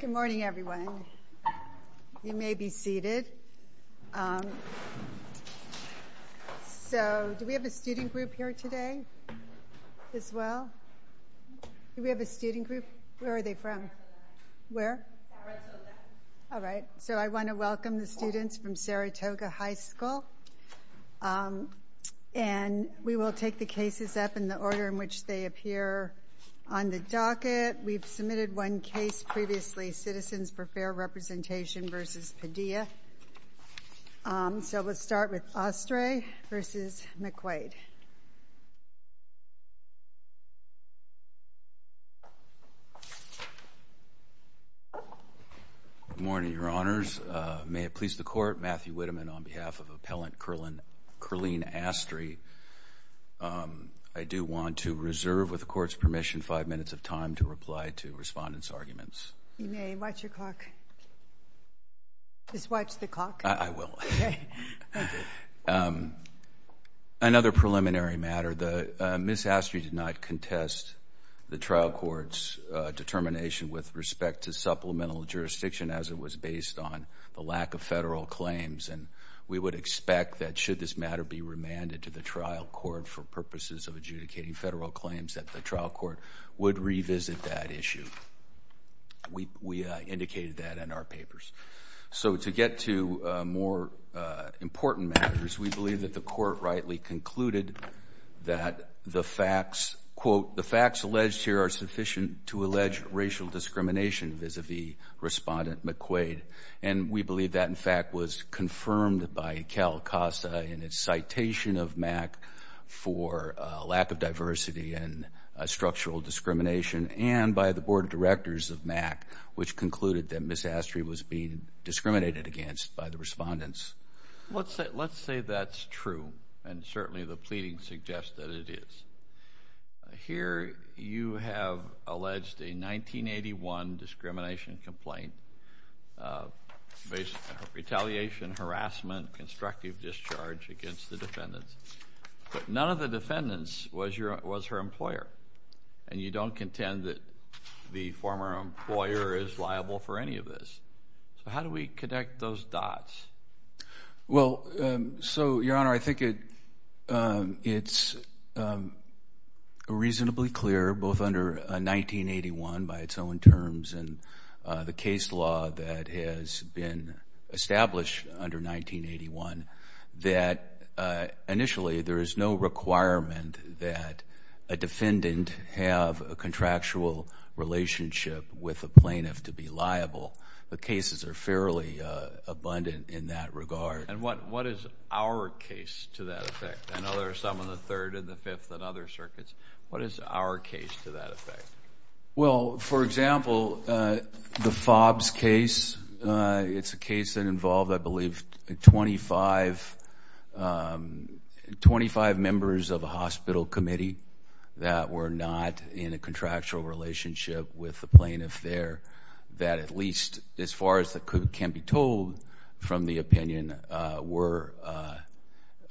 Good morning everyone. You may be seated. So do we have a student group here today as well? Do we have a student group? Where are they from? Where? All right. So I want to welcome the students from Saratoga High School and we will take the cases up in the order in which they appear on the docket. We've submitted one case previously, Citizens for Fair Representation v. Padilla. So let's start with Ostray v. McQuaid. Good morning, Your Honors. May it please the Court, Matthew Witteman on behalf of Appellant Kerline Astre, I do want to reserve, with the Court's permission, five minutes of time to reply to Respondent's arguments. You may. Watch your clock. Just watch the clock. I will. Another preliminary matter, Ms. Astre did not contest the trial court's determination with respect to supplemental jurisdiction as it was based on the lack of federal claims and we would expect that should this matter be remanded to the trial court for purposes of adjudicating federal claims that the trial court would revisit that issue. We indicated that in our papers. So to get to more important matters, we believe that the Court rightly concluded that the facts, quote, the facts alleged here are sufficient to allege racial discrimination vis-a-vis Respondent McQuaid and we believe that, in fact, was confirmed by CALCASA in its citation of MAC for lack of diversity and structural discrimination and by the Board of Directors of MAC, which concluded that Ms. Astre was being discriminated against by the Respondents. Let's say that's true and certainly the pleading suggests that it is. Here you have alleged a 1981 discrimination complaint based on retaliation, harassment, constructive discharge against the defendants, but none of the defendants was her employer and you don't contend that the former employer is liable for any of this. So how do we connect those dots? Well, so, Your Honor, I think it's reasonably clear, both under 1981 by its own terms and the case law that has been established under 1981, that initially there is no requirement that a defendant have a contractual relationship with a plaintiff to be liable. The cases are fairly abundant in that regard. And what is our case to that effect? I know there are some in the Third and the Fifth and other circuits. What is our case to that effect? Well, for example, the Fobbs case, it's a case that involved, I believe, 25 members of a hospital committee that were not in a contractual relationship with the plaintiff there that at least, as far as that can be told from the opinion, were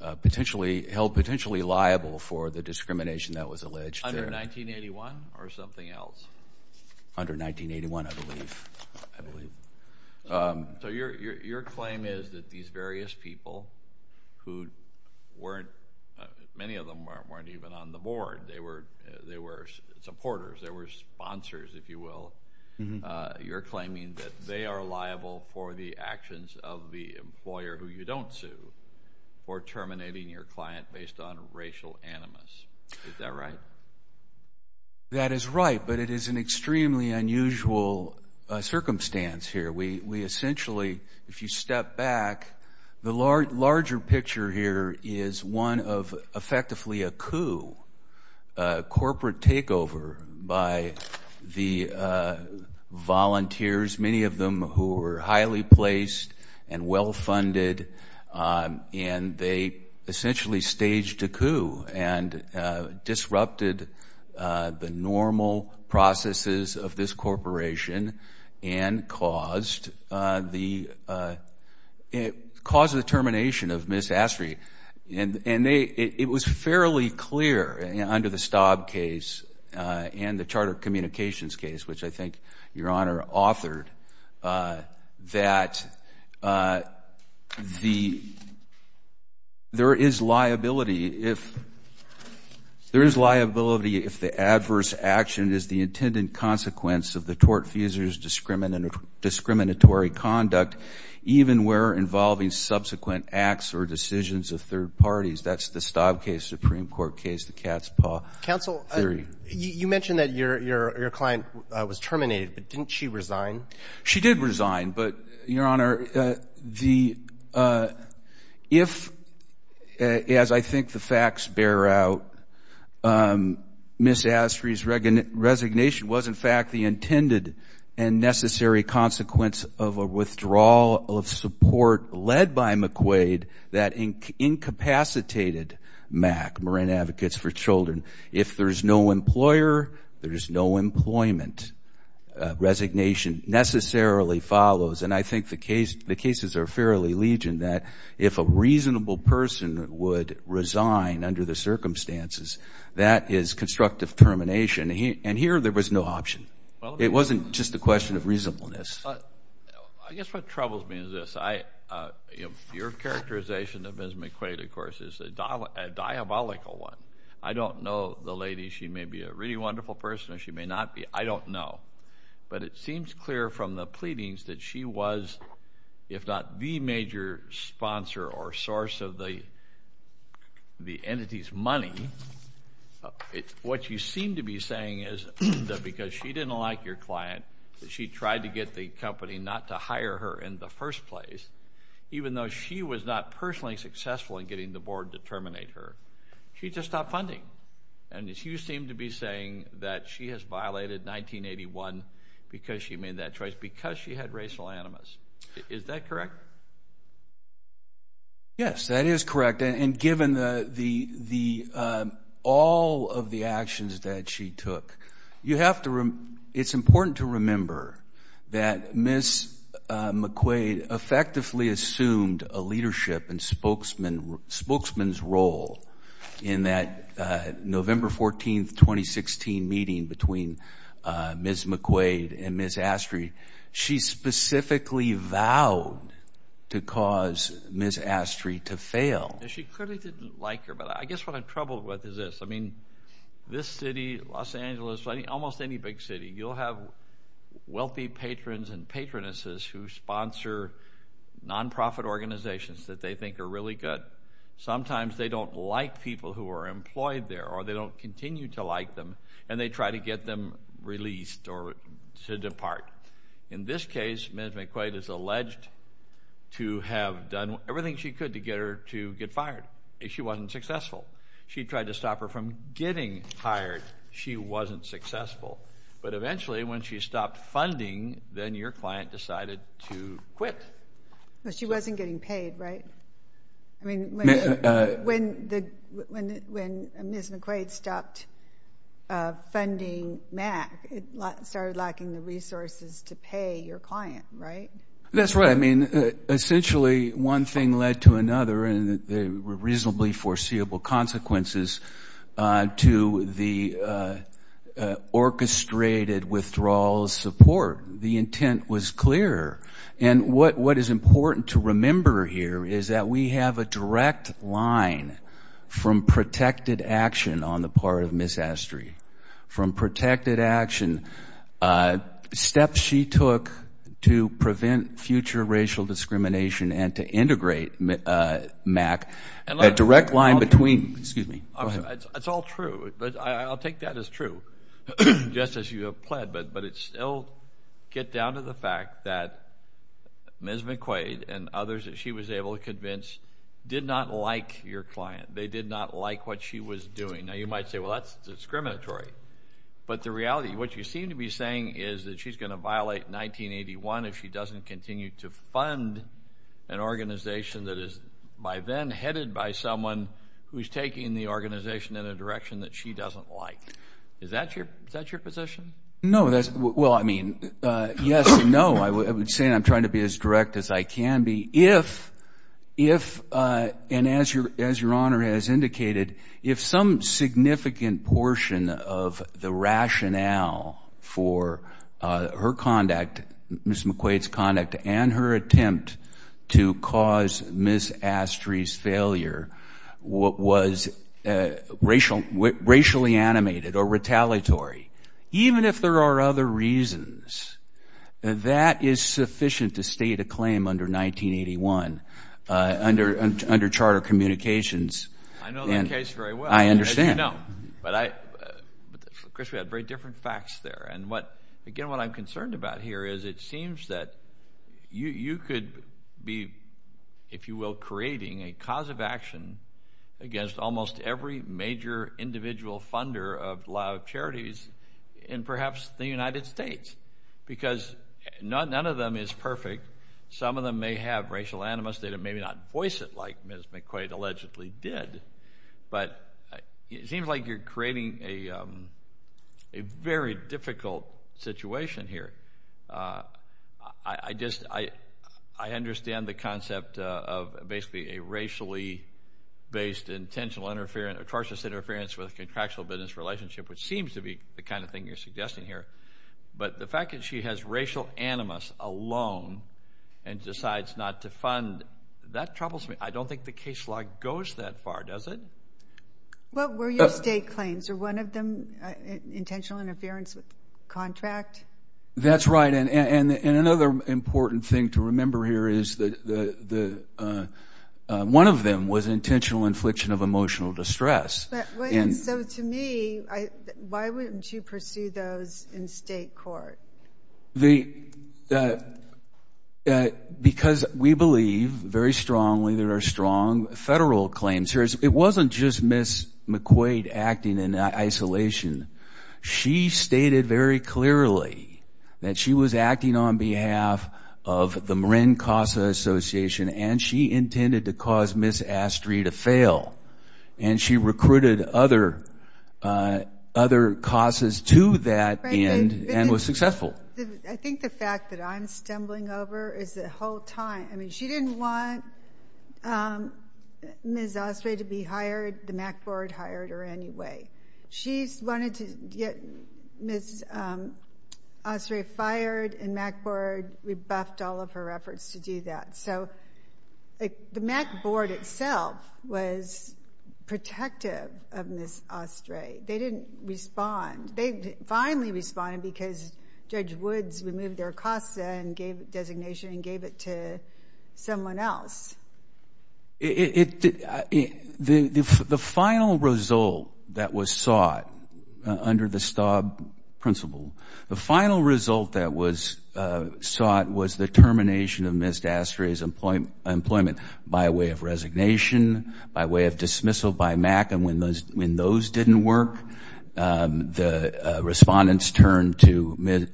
held potentially liable for the discrimination that was alleged there. Under 1981 or something else? Under 1981, I believe. So your claim is that these various people who weren't, many of them weren't even on the board. They were supporters. They were sponsors, if you will. You're claiming that they are liable for the actions of the employer who you don't sue for terminating your client based on racial animus. Is that right? That is right, but it is an extremely unusual circumstance here. We essentially, if you corporate takeover by the volunteers, many of them who were highly placed and well-funded, and they essentially staged a coup and disrupted the normal processes of this corporation and caused the termination of Ms. Astry. It was fairly clear under the Staub case and the Charter of Communications case, which I think your Honor authored, that there is liability if the adverse action is the intended consequence of the tortfeasor's discriminatory conduct, even where involving subsequent acts or decisions of third parties. That's the Staub case, Supreme Court case, the cat's paw theory. You mentioned that your client was terminated, but didn't she resign? She did resign, but your Honor, if, as I think the facts bear out, Ms. Astry's resignation was in fact the intended and necessary consequence of a withdrawal of support led by McQuaid that incapacitated MAC, Marin Advocates for Children. If there's no employer, there's no employment, resignation necessarily follows, and I think the cases are fairly legion that if a reasonable person would resign under the circumstances, that is constructive termination, and here there was no option. It wasn't just a question of reasonableness. I guess what troubles me is this. Your characterization of Ms. McQuaid, of course, is a diabolical one. I don't know, the lady, she may be a really wonderful person or she may not be, I don't know, but it seems clear from the pleadings that she was, if not the major sponsor or source of the entity's money. What you seem to be saying is that because she didn't like your client, she tried to get the company not to hire her in the first place, even though she was not personally successful in getting the board to terminate her, she just stopped funding, and you seem to be saying that she has violated 1981 because she made that choice, because she had racial animus. Is that correct? Yes, that is correct, and given all of the actions that she took, you have to, it's important to remember that Ms. McQuaid effectively assumed a leadership and spokesman's role in that November 14, 2016 meeting between Ms. McQuaid and Ms. Astry. She specifically vowed to cause Ms. Astry to fail. She clearly didn't like her, but I guess what I'm troubled with is this. I mean, this city, Los Angeles, almost any big city, you'll have wealthy patrons and patronesses who sponsor non-profit organizations that they think are really good. Sometimes they don't like people who are employed there, or they don't continue to like them, and they try to get them released or to depart. In this case, Ms. McQuaid is alleged to have done everything she could to get her to get fired. She wasn't successful. She tried to stop her from getting hired. She wasn't successful, but eventually when she stopped funding, then your client decided to quit. No, she wasn't getting paid, right? I mean, when Ms. McQuaid stopped funding MAC, it started lacking the resources to pay your client, right? That's right. I mean, essentially, one thing led to another, and there were reasonably foreseeable consequences to the orchestrated withdrawal of support. The intent was clear. And what is important to remember here is that we have a direct line from protected action on the part of Ms. Astry. From protected action, steps she took to prevent future racial discrimination and to integrate MAC, a direct line between, excuse me, go ahead. It's all true. I'll take that as true, just as you have pled, but it still gets down to the fact that Ms. McQuaid and others that she was able to convince did not like your doing. Now, you might say, well, that's discriminatory. But the reality, what you seem to be saying is that she's going to violate 1981 if she doesn't continue to fund an organization that is by then headed by someone who's taking the organization in a direction that she doesn't like. Is that your position? No. Well, I mean, yes and no. I would say I'm trying to be as direct as I can be. If and as your as your honor has indicated, if some significant portion of the rationale for her conduct, Ms. McQuaid's conduct and her attempt to cause Ms. Astry's failure was racially animated or retaliatory, even if there are other reasons, that is sufficient to state a claim under 1981 under charter communications. I know that case very well. I understand. But I, Chris, we have very different facts there. And what, again, what I'm concerned about here is it seems that you could be, if you will, creating a cause of action against almost every major individual funder of charities in perhaps the United States, because none of them is perfect. Some of them may have racial animus. They may not voice it like Ms. McQuaid allegedly did. But it seems like you're creating a very difficult situation here. I just, I understand the concept of basically a racially based intentional interference, atrocious interference with a contractual business relationship, which seems to be the racial animus alone and decides not to fund. That troubles me. I don't think the case law goes that far, does it? What were your state claims? Are one of them intentional interference with contract? That's right. And another important thing to remember here is that one of them was intentional infliction of emotional distress. So to me, why wouldn't you pursue those in state court? Because we believe very strongly there are strong federal claims here. It wasn't just Ms. McQuaid acting in isolation. She stated very clearly that she was acting on behalf of the Marin CASA Association, and she intended to cause Ms. Astry to fail. And she recruited other CASAs to that end and was successful. I think the fact that I'm stumbling over is the whole time. I mean, she didn't want Ms. Astry to be hired. The MAC Board hired her anyway. She wanted to get Ms. Astry fired and MAC Board rebuffed all of her efforts to do that. So the MAC Board itself was protective of Ms. Astry. They didn't respond. They finally responded because Judge Woods removed their CASA designation and gave it to someone else. The final result that was sought under the STAWB principle, the final result that was sought, was the termination of Ms. Astry's employment by way of resignation, by way of dismissal by MAC. And when those didn't work, the respondents turned to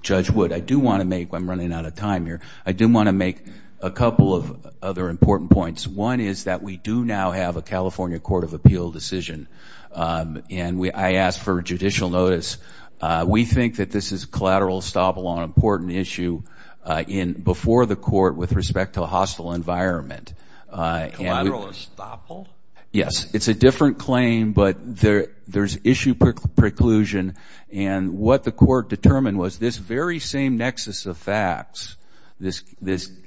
Judge Woods. I do want to make, I'm running out of time here, I do want to make a couple of other important points. One is that we do now have a California Court of Appeal decision. And I asked for judicial notice. We think that this is collateral estoppel on an important issue before the court with respect to a hostile environment. Collateral estoppel? Yes. It's a different claim, but there's issue preclusion. And what the court determined was this very same nexus of facts, this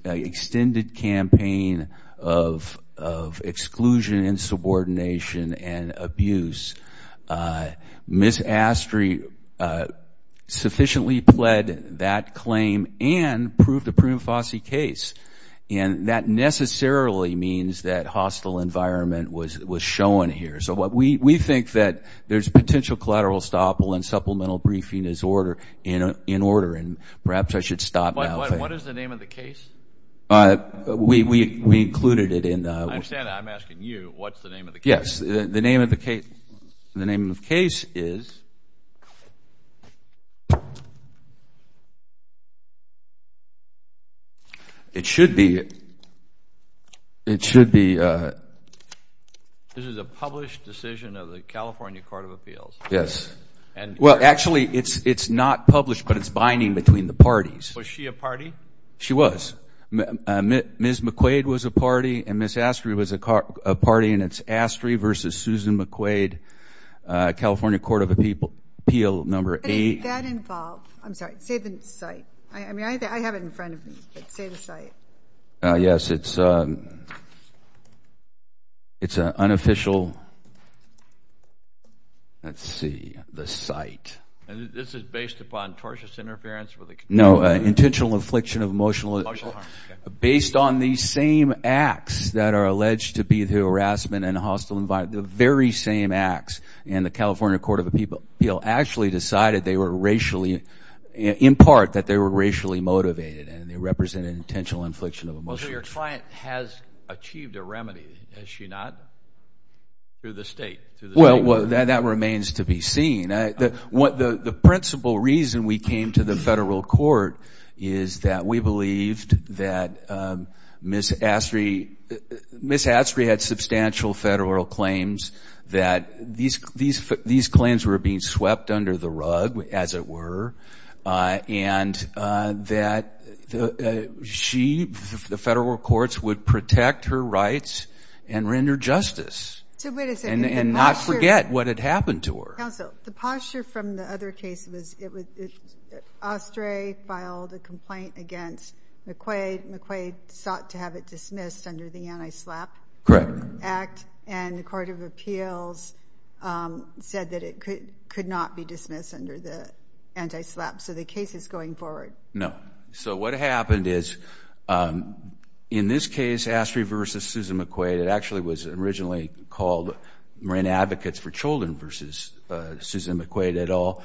extended campaign of exclusion and subordination and abuse, Ms. Astry sufficiently pled that claim and proved a prima facie case. And that necessarily means that hostile environment was shown here. So we think that there's potential collateral estoppel and supplemental briefing is in order. And perhaps I should stop now. What is the name of the case? We included it in the I understand that. I'm asking you, what's the name of the case? Yes. The name of the case is, it should be published. Yes. Well, actually it's not published, but it's binding between the parties. Was she a party? She was. Ms. McQuaid was a party and Ms. Astry was a party and it's Astry v. Susan McQuaid, California Court of Appeal, number eight. How did that involve, I'm sorry, say the site. I mean, I have it in front of me, but say the site. Yes. It's an unofficial, let's see, the site. And this is based upon tortious interference? No. Intentional affliction of emotional. Emotional harm. Based on these same acts that are alleged to be the harassment and hostile environment, the very same acts, and the California Court of Appeal actually decided they were racially, in part, that they were racially motivated and they represented an intentional affliction of emotion. So your client has achieved a remedy, has she not, through the state? Well, that remains to be seen. The principal reason we came to the federal court is that we believed that Ms. Astry, Ms. Astry had substantial federal claims that these claims were being swept under the rug, as it were, and that she, the federal courts, would protect her rights and render justice. So wait a second. And not forget what had happened to her. Counsel, the posture from the other case was Astry filed a complaint against McQuaid. McQuaid sought to have it dismissed under the Anti-SLAPP Act. Correct. And the Court of Appeals said that it could not be dismissed under the Anti-SLAPP. So the case is going forward. No. So what happened is, in this case, Astry versus Susan McQuaid, it actually was originally called Marin Advocates for Children versus Susan McQuaid et al.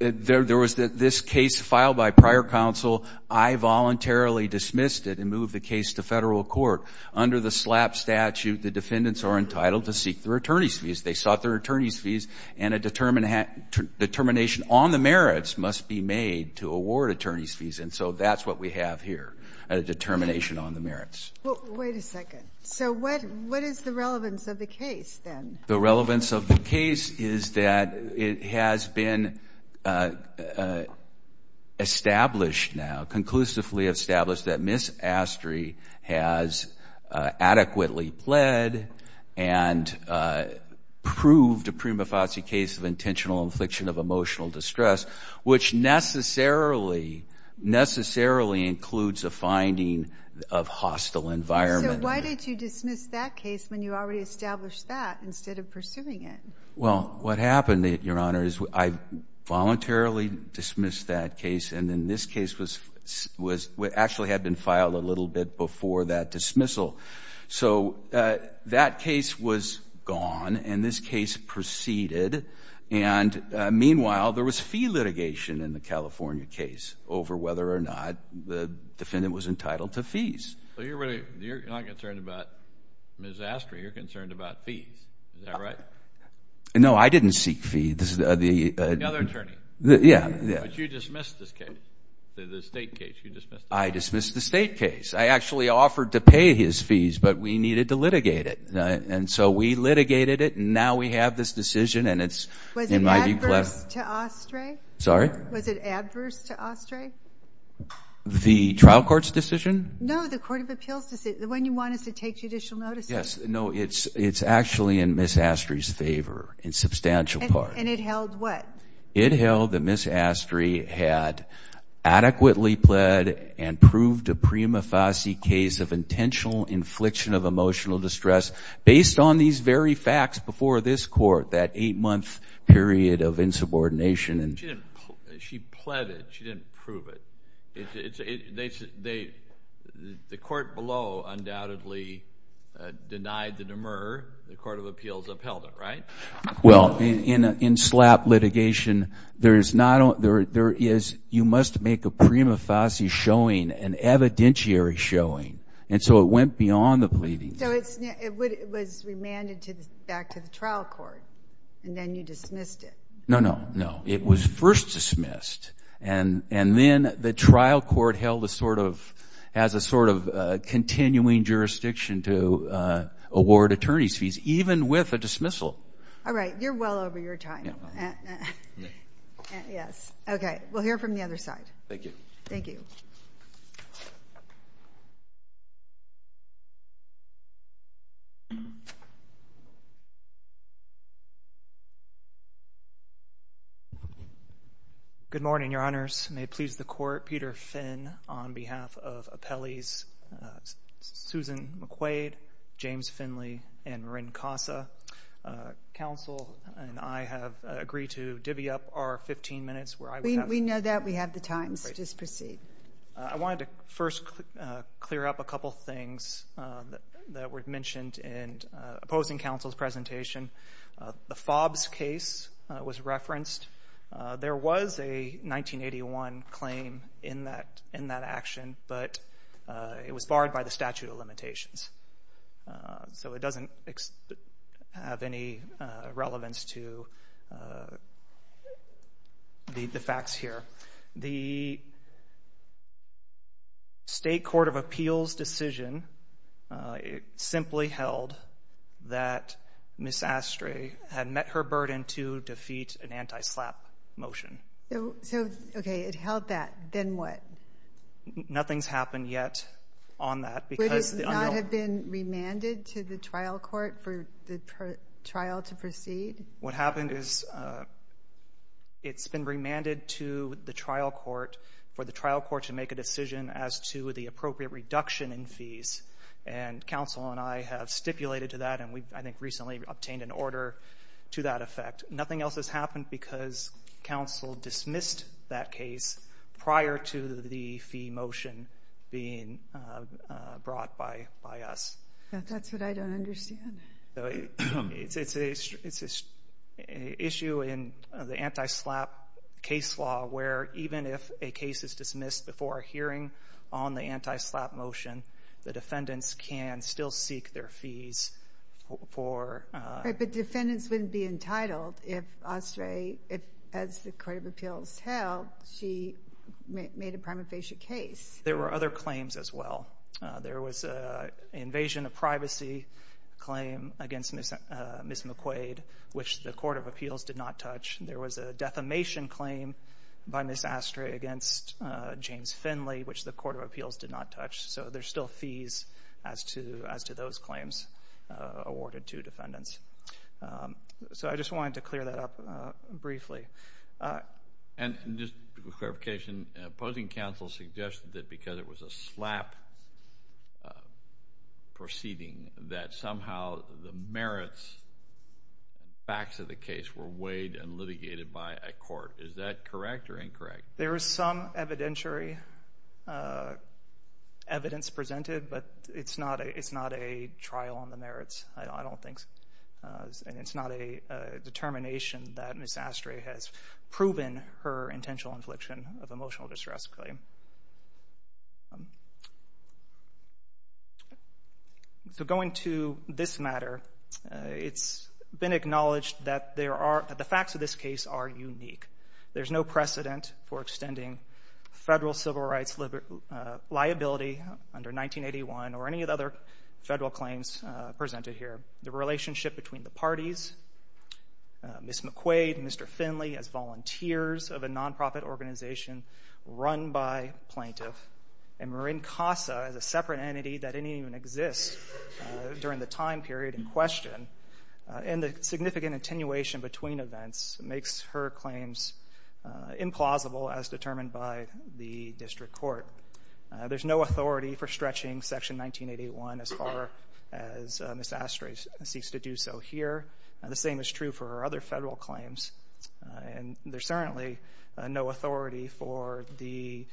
There was this case filed by prior counsel. I voluntarily dismissed it and moved the case to federal court. Under the SLAPP statute, the defendants are entitled to seek their attorney's fees. They sought their attorney's fees, and a determination on the merits must be made to award attorney's fees. And so that's what we have here, a determination on the merits. Wait a second. So what is the relevance of the case, then? The relevance of the case is that it has been established now, conclusively established, that Ms. Astry has adequately pled and proved a prima facie case of intentional infliction of emotional distress, which necessarily includes a finding of hostile environment. So why did you dismiss that case when you already established that instead of pursuing it? Well, what happened, Your Honor, is I voluntarily dismissed that case, and then this case actually had been filed a little bit before that dismissal. So that case was gone, and this case proceeded. And meanwhile, there was fee litigation in the California case over whether or not the defendant was entitled to fees. So you're not concerned about Ms. Astry. You're concerned about fees. Is that right? No, I didn't seek fees. Another attorney. Yeah. But you dismissed this case, the state case. I dismissed the state case. I actually offered to pay his fees, but we needed to litigate it. And so we litigated it, and now we have this decision, and it's in my view. Was it adverse to Astry? Sorry? Was it adverse to Astry? The trial court's decision? No, the court of appeals decision, the one you want us to take judicial notice of. Yes. No, it's actually in Ms. Astry's favor in substantial part. And it held what? It held that Ms. Astry had adequately pled and proved a prima facie case of intentional infliction of emotional distress based on these very facts before this Court, that eight-month period of insubordination. She pled it. She didn't prove it. The court below undoubtedly denied the demur. The court of appeals upheld it, right? Well, in SLAPP litigation, you must make a prima facie showing, an evidentiary showing. And so it went beyond the pleading. So it was remanded back to the trial court, and then you dismissed it. No, no, no. It was first dismissed. And then the trial court held as a sort of continuing jurisdiction to award attorney's fees, even with a dismissal. All right. You're well over your time. Yes. Okay. We'll hear from the other side. Thank you. Thank you. Good morning, Your Honors. May it please the Court, Peter Finn on behalf of Appellee's Susan McQuaid, James Finley, and Marin Casa. Counsel and I have agreed to divvy up our 15 minutes. We know that. We have the times. Just proceed. I wanted to first clear up a couple things that were mentioned in opposing counsel's presentation. The Fobbs case was referenced. There was a 1981 claim in that action, but it was barred by the statute of limitations. So it doesn't have any relevance to the facts here. The State Court of Appeals decision simply held that Ms. Astrey had met her burden to defeat an anti-SLAPP motion. So, okay, it held that. Then what? Nothing's happened yet on that. Would it not have been remanded to the trial court for the trial to proceed? What happened is it's been remanded to the trial court for the trial court to make a decision as to the appropriate reduction in fees. And counsel and I have stipulated to that, and we, I think, recently obtained an order to that effect. Nothing else has happened because counsel dismissed that case prior to the fee motion being brought by us. That's what I don't understand. It's an issue in the anti-SLAPP case law where even if a case is dismissed before a hearing on the anti-SLAPP motion, the defendants can still seek their fees for – But defendants wouldn't be entitled if Astrey, as the Court of Appeals held, she made a prima facie case. There were other claims as well. There was an invasion of privacy claim against Ms. McQuaid, which the Court of Appeals did not touch. There was a defamation claim by Ms. Astrey against James Finley, which the Court of Appeals did not touch. So there's still fees as to those claims awarded to defendants. So I just wanted to clear that up briefly. And just for clarification, opposing counsel suggested that because it was a SLAPP proceeding, that somehow the merits and facts of the case were weighed and litigated by a court. Is that correct or incorrect? There is some evidentiary evidence presented, but it's not a trial on the merits, I don't think. And it's not a determination that Ms. Astrey has proven her intentional infliction of emotional distress claim. So going to this matter, it's been acknowledged that the facts of this case are unique. There's no precedent for extending federal civil rights liability under 1981 or any of the other federal claims presented here. The relationship between the parties, Ms. McQuaid and Mr. Finley as volunteers of a nonprofit organization run by plaintiff, and Marin Casa as a separate entity that didn't even exist during the time period in question, and the significant attenuation between events makes her claims implausible as determined by the district court. There's no authority for stretching Section 1981 as far as Ms. Astrey seeks to do so here. The same is true for her other federal claims. And there's certainly no authority for the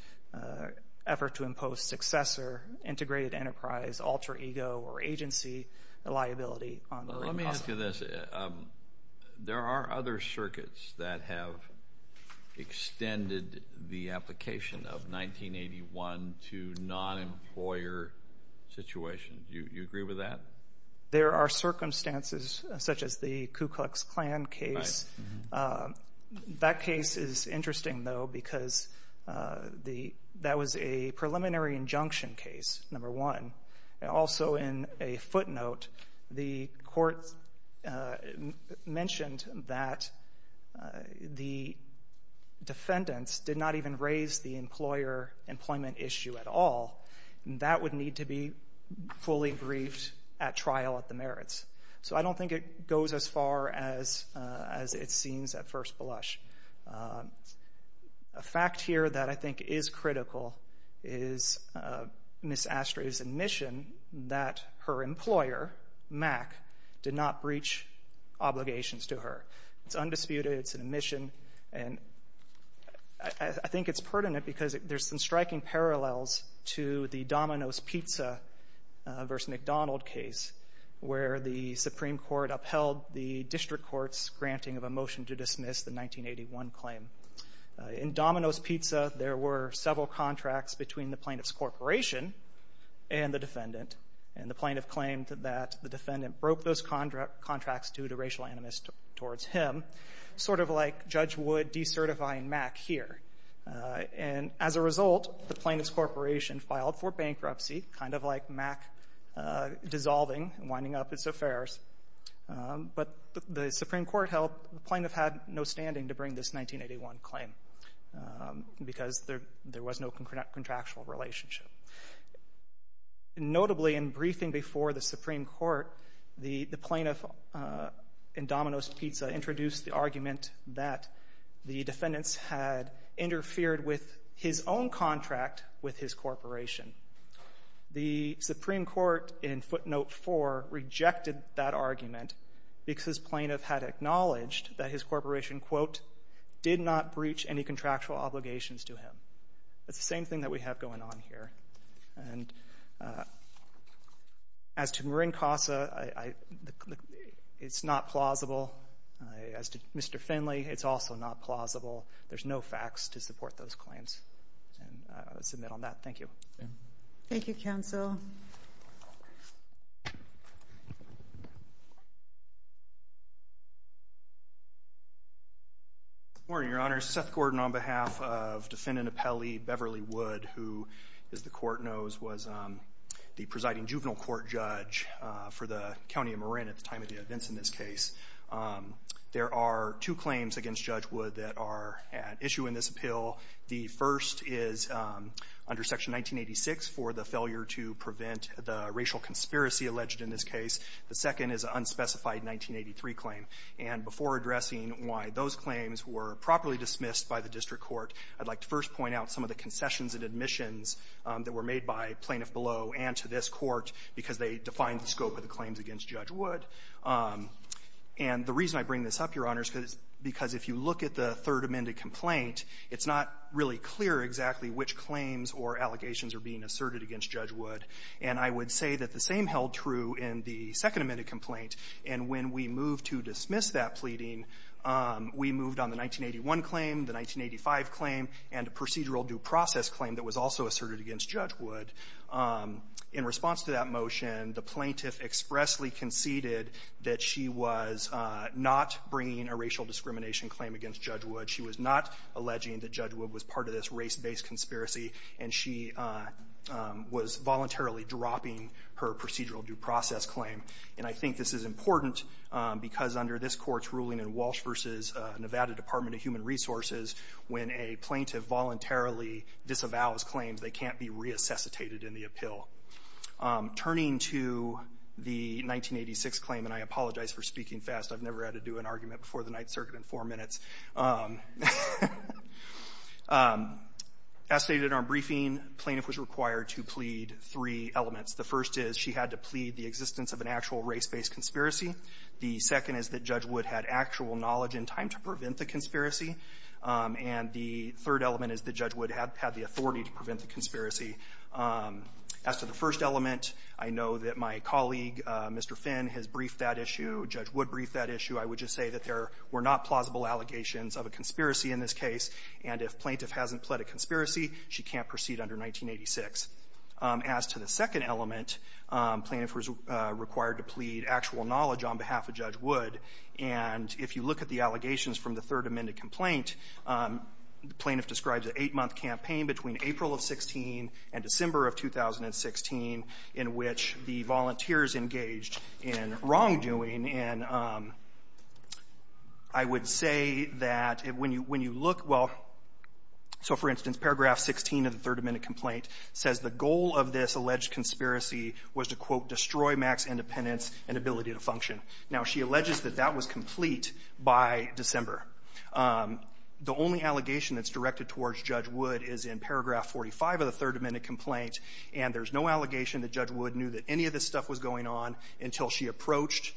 effort to impose successor, integrated enterprise, alter ego, or agency liability on Marin Casa. Let me ask you this. There are other circuits that have extended the application of 1981 to non-employer situations. Do you agree with that? There are circumstances such as the Ku Klux Klan case. That case is interesting, though, because that was a preliminary injunction case, number one. Also in a footnote, the court mentioned that the defendants did not even raise the employer employment issue at all. That would need to be fully briefed at trial at the merits. So I don't think it goes as far as it seems at first blush. A fact here that I think is critical is Ms. Astrey's admission that her employer, MAC, did not breach obligations to her. It's undisputed. It's an admission. I think it's pertinent because there's some striking parallels to the Domino's Pizza v. McDonald case, where the Supreme Court upheld the district court's granting of a motion to dismiss the 1981 claim. In Domino's Pizza, there were several contracts between the plaintiff's corporation and the defendant. And the plaintiff claimed that the defendant broke those contracts due to racial animus towards him. Sort of like Judge Wood decertifying MAC here. And as a result, the plaintiff's corporation filed for bankruptcy, kind of like MAC dissolving and winding up its affairs. But the Supreme Court held the plaintiff had no standing to bring this 1981 claim because there was no contractual relationship. Notably, in briefing before the Supreme Court, the plaintiff in Domino's Pizza introduced the argument that the defendants had interfered with his own contract with his corporation. The Supreme Court in footnote 4 rejected that argument because plaintiff had acknowledged that his corporation, quote, did not breach any contractual obligations to him. It's the same thing that we have going on here. And as to Marin Casa, it's not plausible. As to Mr. Finley, it's also not plausible. There's no facts to support those claims. I'll submit on that. Thank you. Thank you, counsel. Good morning, Your Honor. Seth Gordon on behalf of Defendant Appellee Beverly Wood, who, as the court knows, was the presiding juvenile court judge for the County of Marin at the time of the events in this case. There are two claims against Judge Wood that are at issue in this appeal. The first is under Section 1986 for the failure to prevent the racial conspiracy alleged in this case. The second is an unspecified 1983 claim. And before addressing why those claims were properly dismissed by the district court, I'd like to first point out some of the concessions and admissions that were made by plaintiff below and to this court because they defined the scope of the claims against Judge Wood. And the reason I bring this up, Your Honor, is because if you look at the third amended complaint, it's not really clear exactly which claims or allegations are being asserted against Judge Wood. And I would say that the same held true in the second amended complaint. And when we moved to dismiss that pleading, we moved on the 1981 claim, the 1985 claim, and a procedural due process claim that was also asserted against Judge Wood. In response to that motion, the plaintiff expressly conceded that she was not bringing a racial discrimination claim against Judge Wood, she was not alleging that Judge Wood was part of this race-based conspiracy, and she was voluntarily dropping her procedural due process claim. And I think this is important because under this court's ruling in Walsh v. Nevada Department of Human Resources, when a plaintiff voluntarily disavows claims, they can't be reassuscitated in the appeal. Turning to the 1986 claim, and I apologize for speaking fast. I've never had to do an argument before the Ninth Circuit in four minutes. As stated in our briefing, plaintiff was required to plead three elements. The first is she had to plead the existence of an actual race-based conspiracy. The second is that Judge Wood had actual knowledge in time to prevent the conspiracy. And the third element is that Judge Wood had the authority to prevent the conspiracy. As to the first element, I know that my colleague, Mr. Finn, has briefed that issue. Judge Wood briefed that issue. I would just say that there were not plausible allegations of a conspiracy in this case. And if plaintiff hasn't pled a conspiracy, she can't proceed under 1986. As to the second element, plaintiff was required to plead actual knowledge on behalf of Judge Wood. And if you look at the allegations from the Third Amendment complaint, the plaintiff describes an eight-month campaign between April of 16 and December of 2016 in which the volunteers engaged in wrongdoing. And I would say that when you look, well, so for instance, paragraph 16 of the Third Amendment complaint says the goal of this alleged conspiracy was to, quote, destroy max independence and ability to function. Now, she alleges that that was complete by December. The only allegation that's directed towards Judge Wood is in paragraph 45 of the Third Amendment complaint, and there's no allegation that Judge Wood knew that any of this stuff was going on until she approached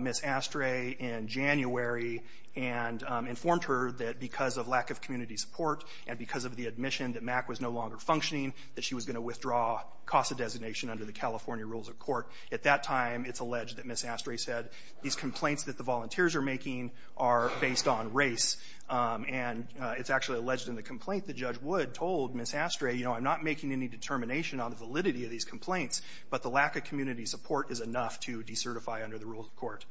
Ms. Astray in January and informed her that because of lack of community support and because of the admission that MAC was no longer functioning, that she was going to withdraw CASA designation under the California rules of court. At that time, it's alleged that Ms. Astray said, these complaints that the volunteers are making are based on race. And it's actually alleged in the complaint that Judge Wood told Ms. Astray, you know, I'm not making any determination on the validity of these complaints, but the lack of community support is enough to decertify under the rules of court.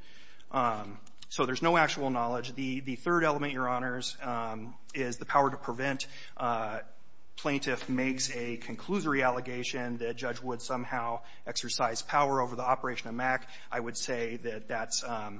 So there's no actual knowledge. The third element, Your Honors, is the power to prevent. Plaintiff makes a conclusory allegation that Judge Wood somehow exercised power over the operation of MAC. I would say that that's a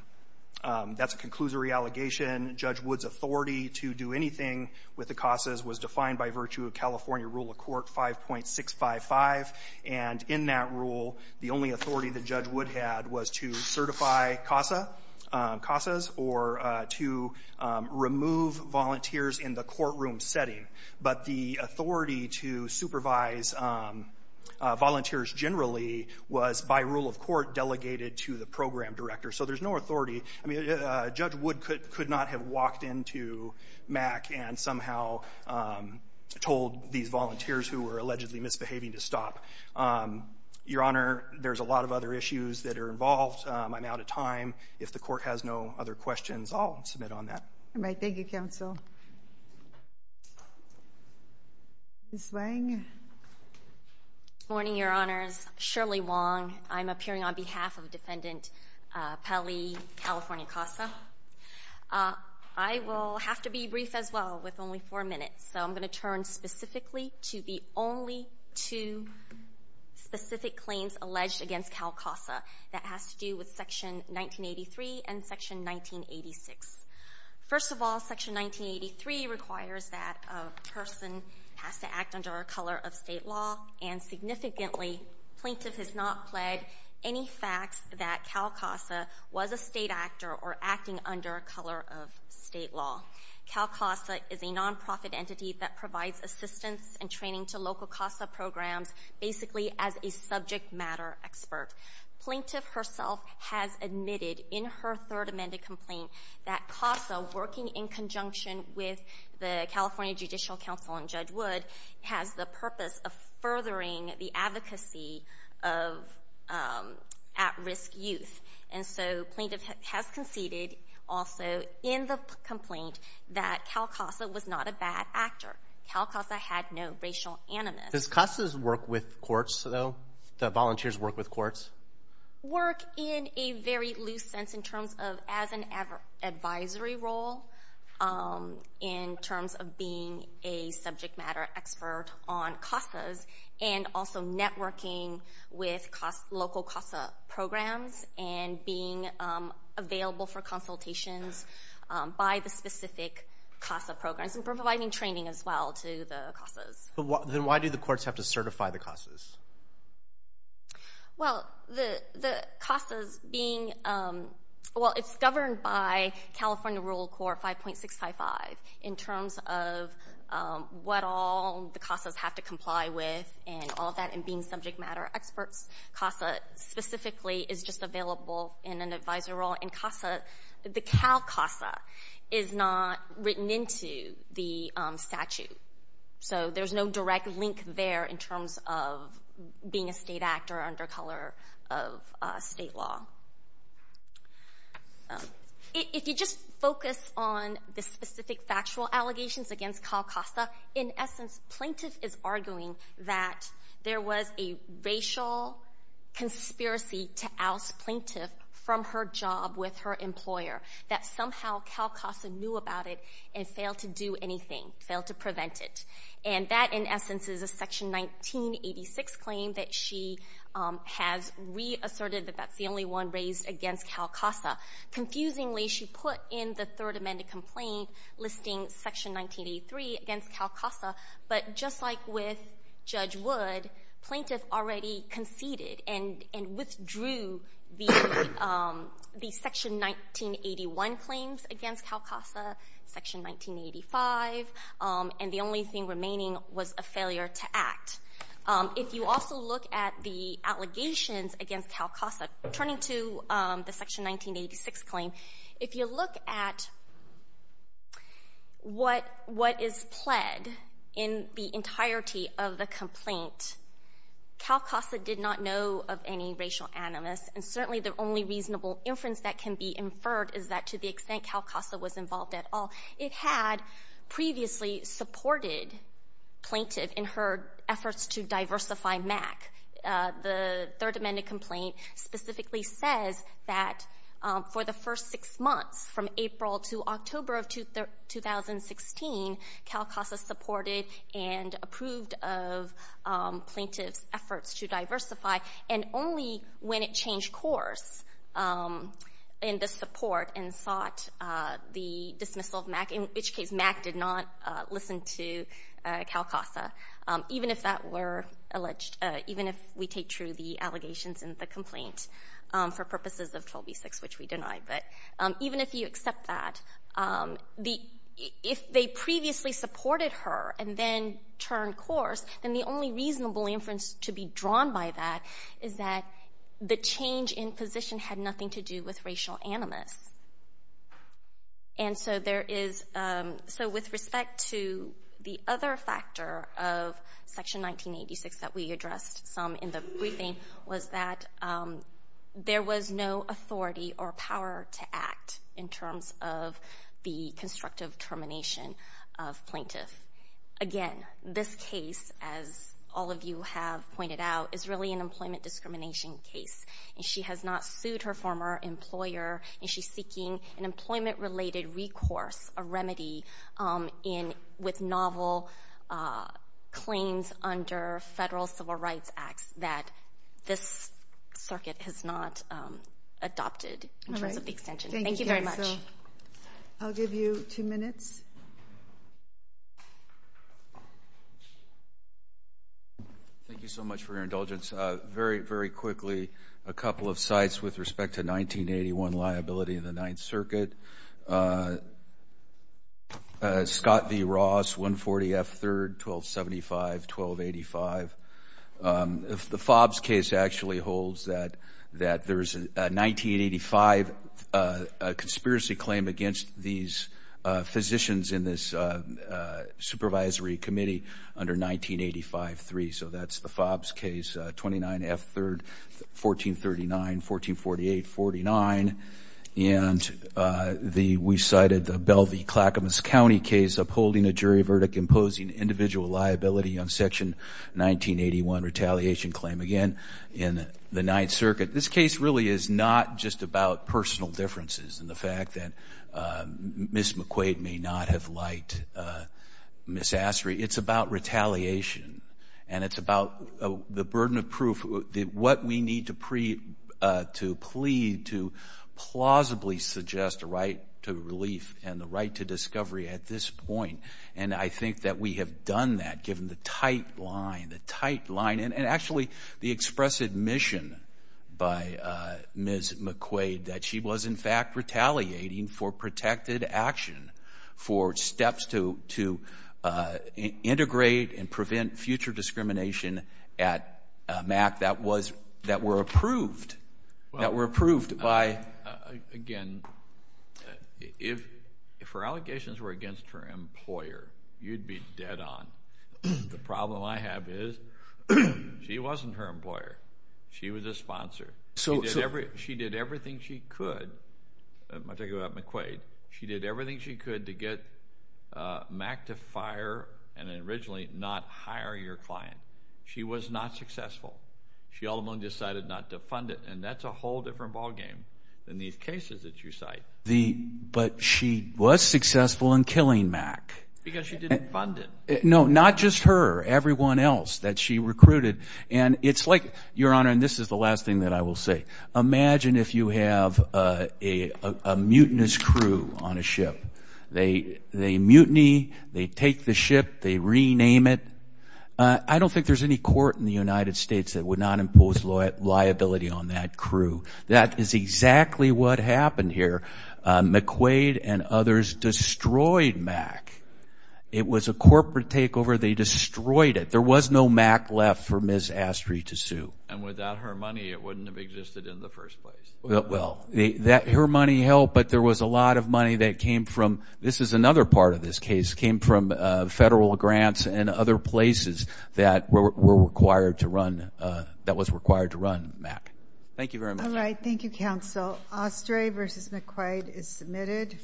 conclusory allegation. Judge Wood's authority to do anything with the CASAs was defined by virtue of California rule of court 5.655, and in that rule, the only authority that Judge Wood had was to certify CASAs or to remove volunteers in the courtroom setting. But the authority to supervise volunteers generally was, by rule of court, delegated to the program director. So there's no authority. I mean, Judge Wood could not have walked into MAC and somehow told these volunteers who were allegedly misbehaving to stop. Your Honor, there's a lot of other issues that are involved. I'm out of time. If the court has no other questions, I'll submit on that. All right. Thank you, Counsel. Ms. Lang? Good morning, Your Honors. Shirley Wong. I'm appearing on behalf of Defendant Pelley, California CASA. I will have to be brief as well with only four minutes, so I'm going to turn specifically to the only two specific claims alleged against CALCASA. That has to do with Section 1983 and Section 1986. First of all, Section 1983 requires that a person has to act under a color of state law, and significantly, Plaintiff has not pled any facts that CALCASA was a state actor or acting under a color of state law. CALCASA is a nonprofit entity that provides assistance and training to local CASA programs, basically as a subject matter expert. Plaintiff herself has admitted in her third amended complaint that CASA, working in conjunction with the California Judicial Council and Judge Wood, has the purpose of furthering the advocacy of at-risk youth. And so Plaintiff has conceded also in the complaint that CALCASA was not a bad actor. CALCASA had no racial animus. Does CASA's work with courts, though, the volunteers' work with courts? Work in a very loose sense in terms of as an advisory role in terms of being a subject matter expert on CASAs and also networking with local CASA programs and being available for consultations by the specific CASA programs and providing training as well to the CASAs. Then why do the courts have to certify the CASAs? Well, the CASAs being—well, it's governed by California Rural Corps 5.655 in terms of what all the CASAs have to comply with and all of that and being subject matter experts. CASA specifically is just available in an advisory role. In CASA, the CALCASA is not written into the statute. So there's no direct link there in terms of being a state actor or under color of state law. If you just focus on the specific factual allegations against CALCASA, in essence, Plaintiff is arguing that there was a racial conspiracy to oust Plaintiff from her job with her employer, that somehow CALCASA knew about it and failed to do anything, failed to prevent it. And that, in essence, is a Section 1986 claim that she has reasserted that that's the only one raised against CALCASA. Confusingly, she put in the Third Amendment complaint listing Section 1983 against CALCASA, but just like with Judge Wood, Plaintiff already conceded and withdrew the Section 1981 claims against CALCASA, Section 1985, and the only thing remaining was a failure to act. If you also look at the allegations against CALCASA, turning to the Section 1986 claim, if you look at what is pled in the entirety of the complaint, CALCASA did not know of any racial animus, and certainly the only reasonable inference that can be inferred is that to the extent CALCASA was involved at all, it had previously supported Plaintiff in her efforts to diversify MAC. The Third Amendment complaint specifically says that for the first six months, from April to October of 2016, CALCASA supported and approved of Plaintiff's efforts to diversify, and only when it changed course in the support and sought the dismissal of MAC, in which case MAC did not listen to CALCASA, even if that were alleged, even if we take true the allegations in the complaint for purposes of 12b-6, which we denied. But even if you accept that, if they previously supported her and then turned course, then the only reasonable inference to be drawn by that is that the change in position had nothing to do with racial animus. And so with respect to the other factor of Section 1986 that we addressed some in the briefing was that there was no authority or power to act in terms of the constructive termination of Plaintiff. Again, this case, as all of you have pointed out, is really an employment discrimination case. She has not sued her former employer, and she's seeking an employment-related recourse, a remedy with novel claims under federal civil rights acts that this circuit has not adopted in terms of the extension. Thank you very much. I'll give you two minutes. Thank you so much for your indulgence. Very, very quickly, a couple of sites with respect to 1981 liability in the Ninth Circuit. Scott v. Ross, 140 F. 3rd, 1275-1285. The Fobbs case actually holds that there's a 1985 conspiracy claim against these physicians in this supervisory committee under 1985-3. So that's the Fobbs case, 29 F. 3rd, 1439-1448-49. And we cited the Belle v. Clackamas County case upholding a jury verdict imposing individual liability on Section 1981 retaliation claim. Again, in the Ninth Circuit. This case really is not just about personal differences and the fact that Ms. McQuaid may not have liked Ms. Astry. It's about retaliation, and it's about the burden of proof. What we need to plead to plausibly suggest a right to relief and the right to discovery at this point, and I think that we have done that given the tight line, the tight line, and actually the expressive mission by Ms. McQuaid that she was in fact retaliating for protected action, for steps to integrate and prevent future discrimination at MAC that were approved by... If her allegations were against her employer, you'd be dead on. The problem I have is she wasn't her employer. She was a sponsor. She did everything she could. I'm talking about McQuaid. She did everything she could to get MAC to fire and originally not hire your client. She was not successful. She ultimately decided not to fund it, and that's a whole different ballgame than these cases that you cite. But she was successful in killing MAC. Because she didn't fund it. No, not just her, everyone else that she recruited. And it's like, Your Honor, and this is the last thing that I will say, imagine if you have a mutinous crew on a ship. They mutiny. They take the ship. They rename it. I don't think there's any court in the United States that would not impose liability on that crew. That is exactly what happened here. McQuaid and others destroyed MAC. It was a corporate takeover. They destroyed it. There was no MAC left for Ms. Astry to sue. And without her money, it wouldn't have existed in the first place. Well, her money helped, but there was a lot of money that came from, this is another part of this case, came from federal grants and other places that were required to run, that was required to run MAC. Thank you very much. All right. Thank you, Counsel. Astry v. McQuaid is submitted.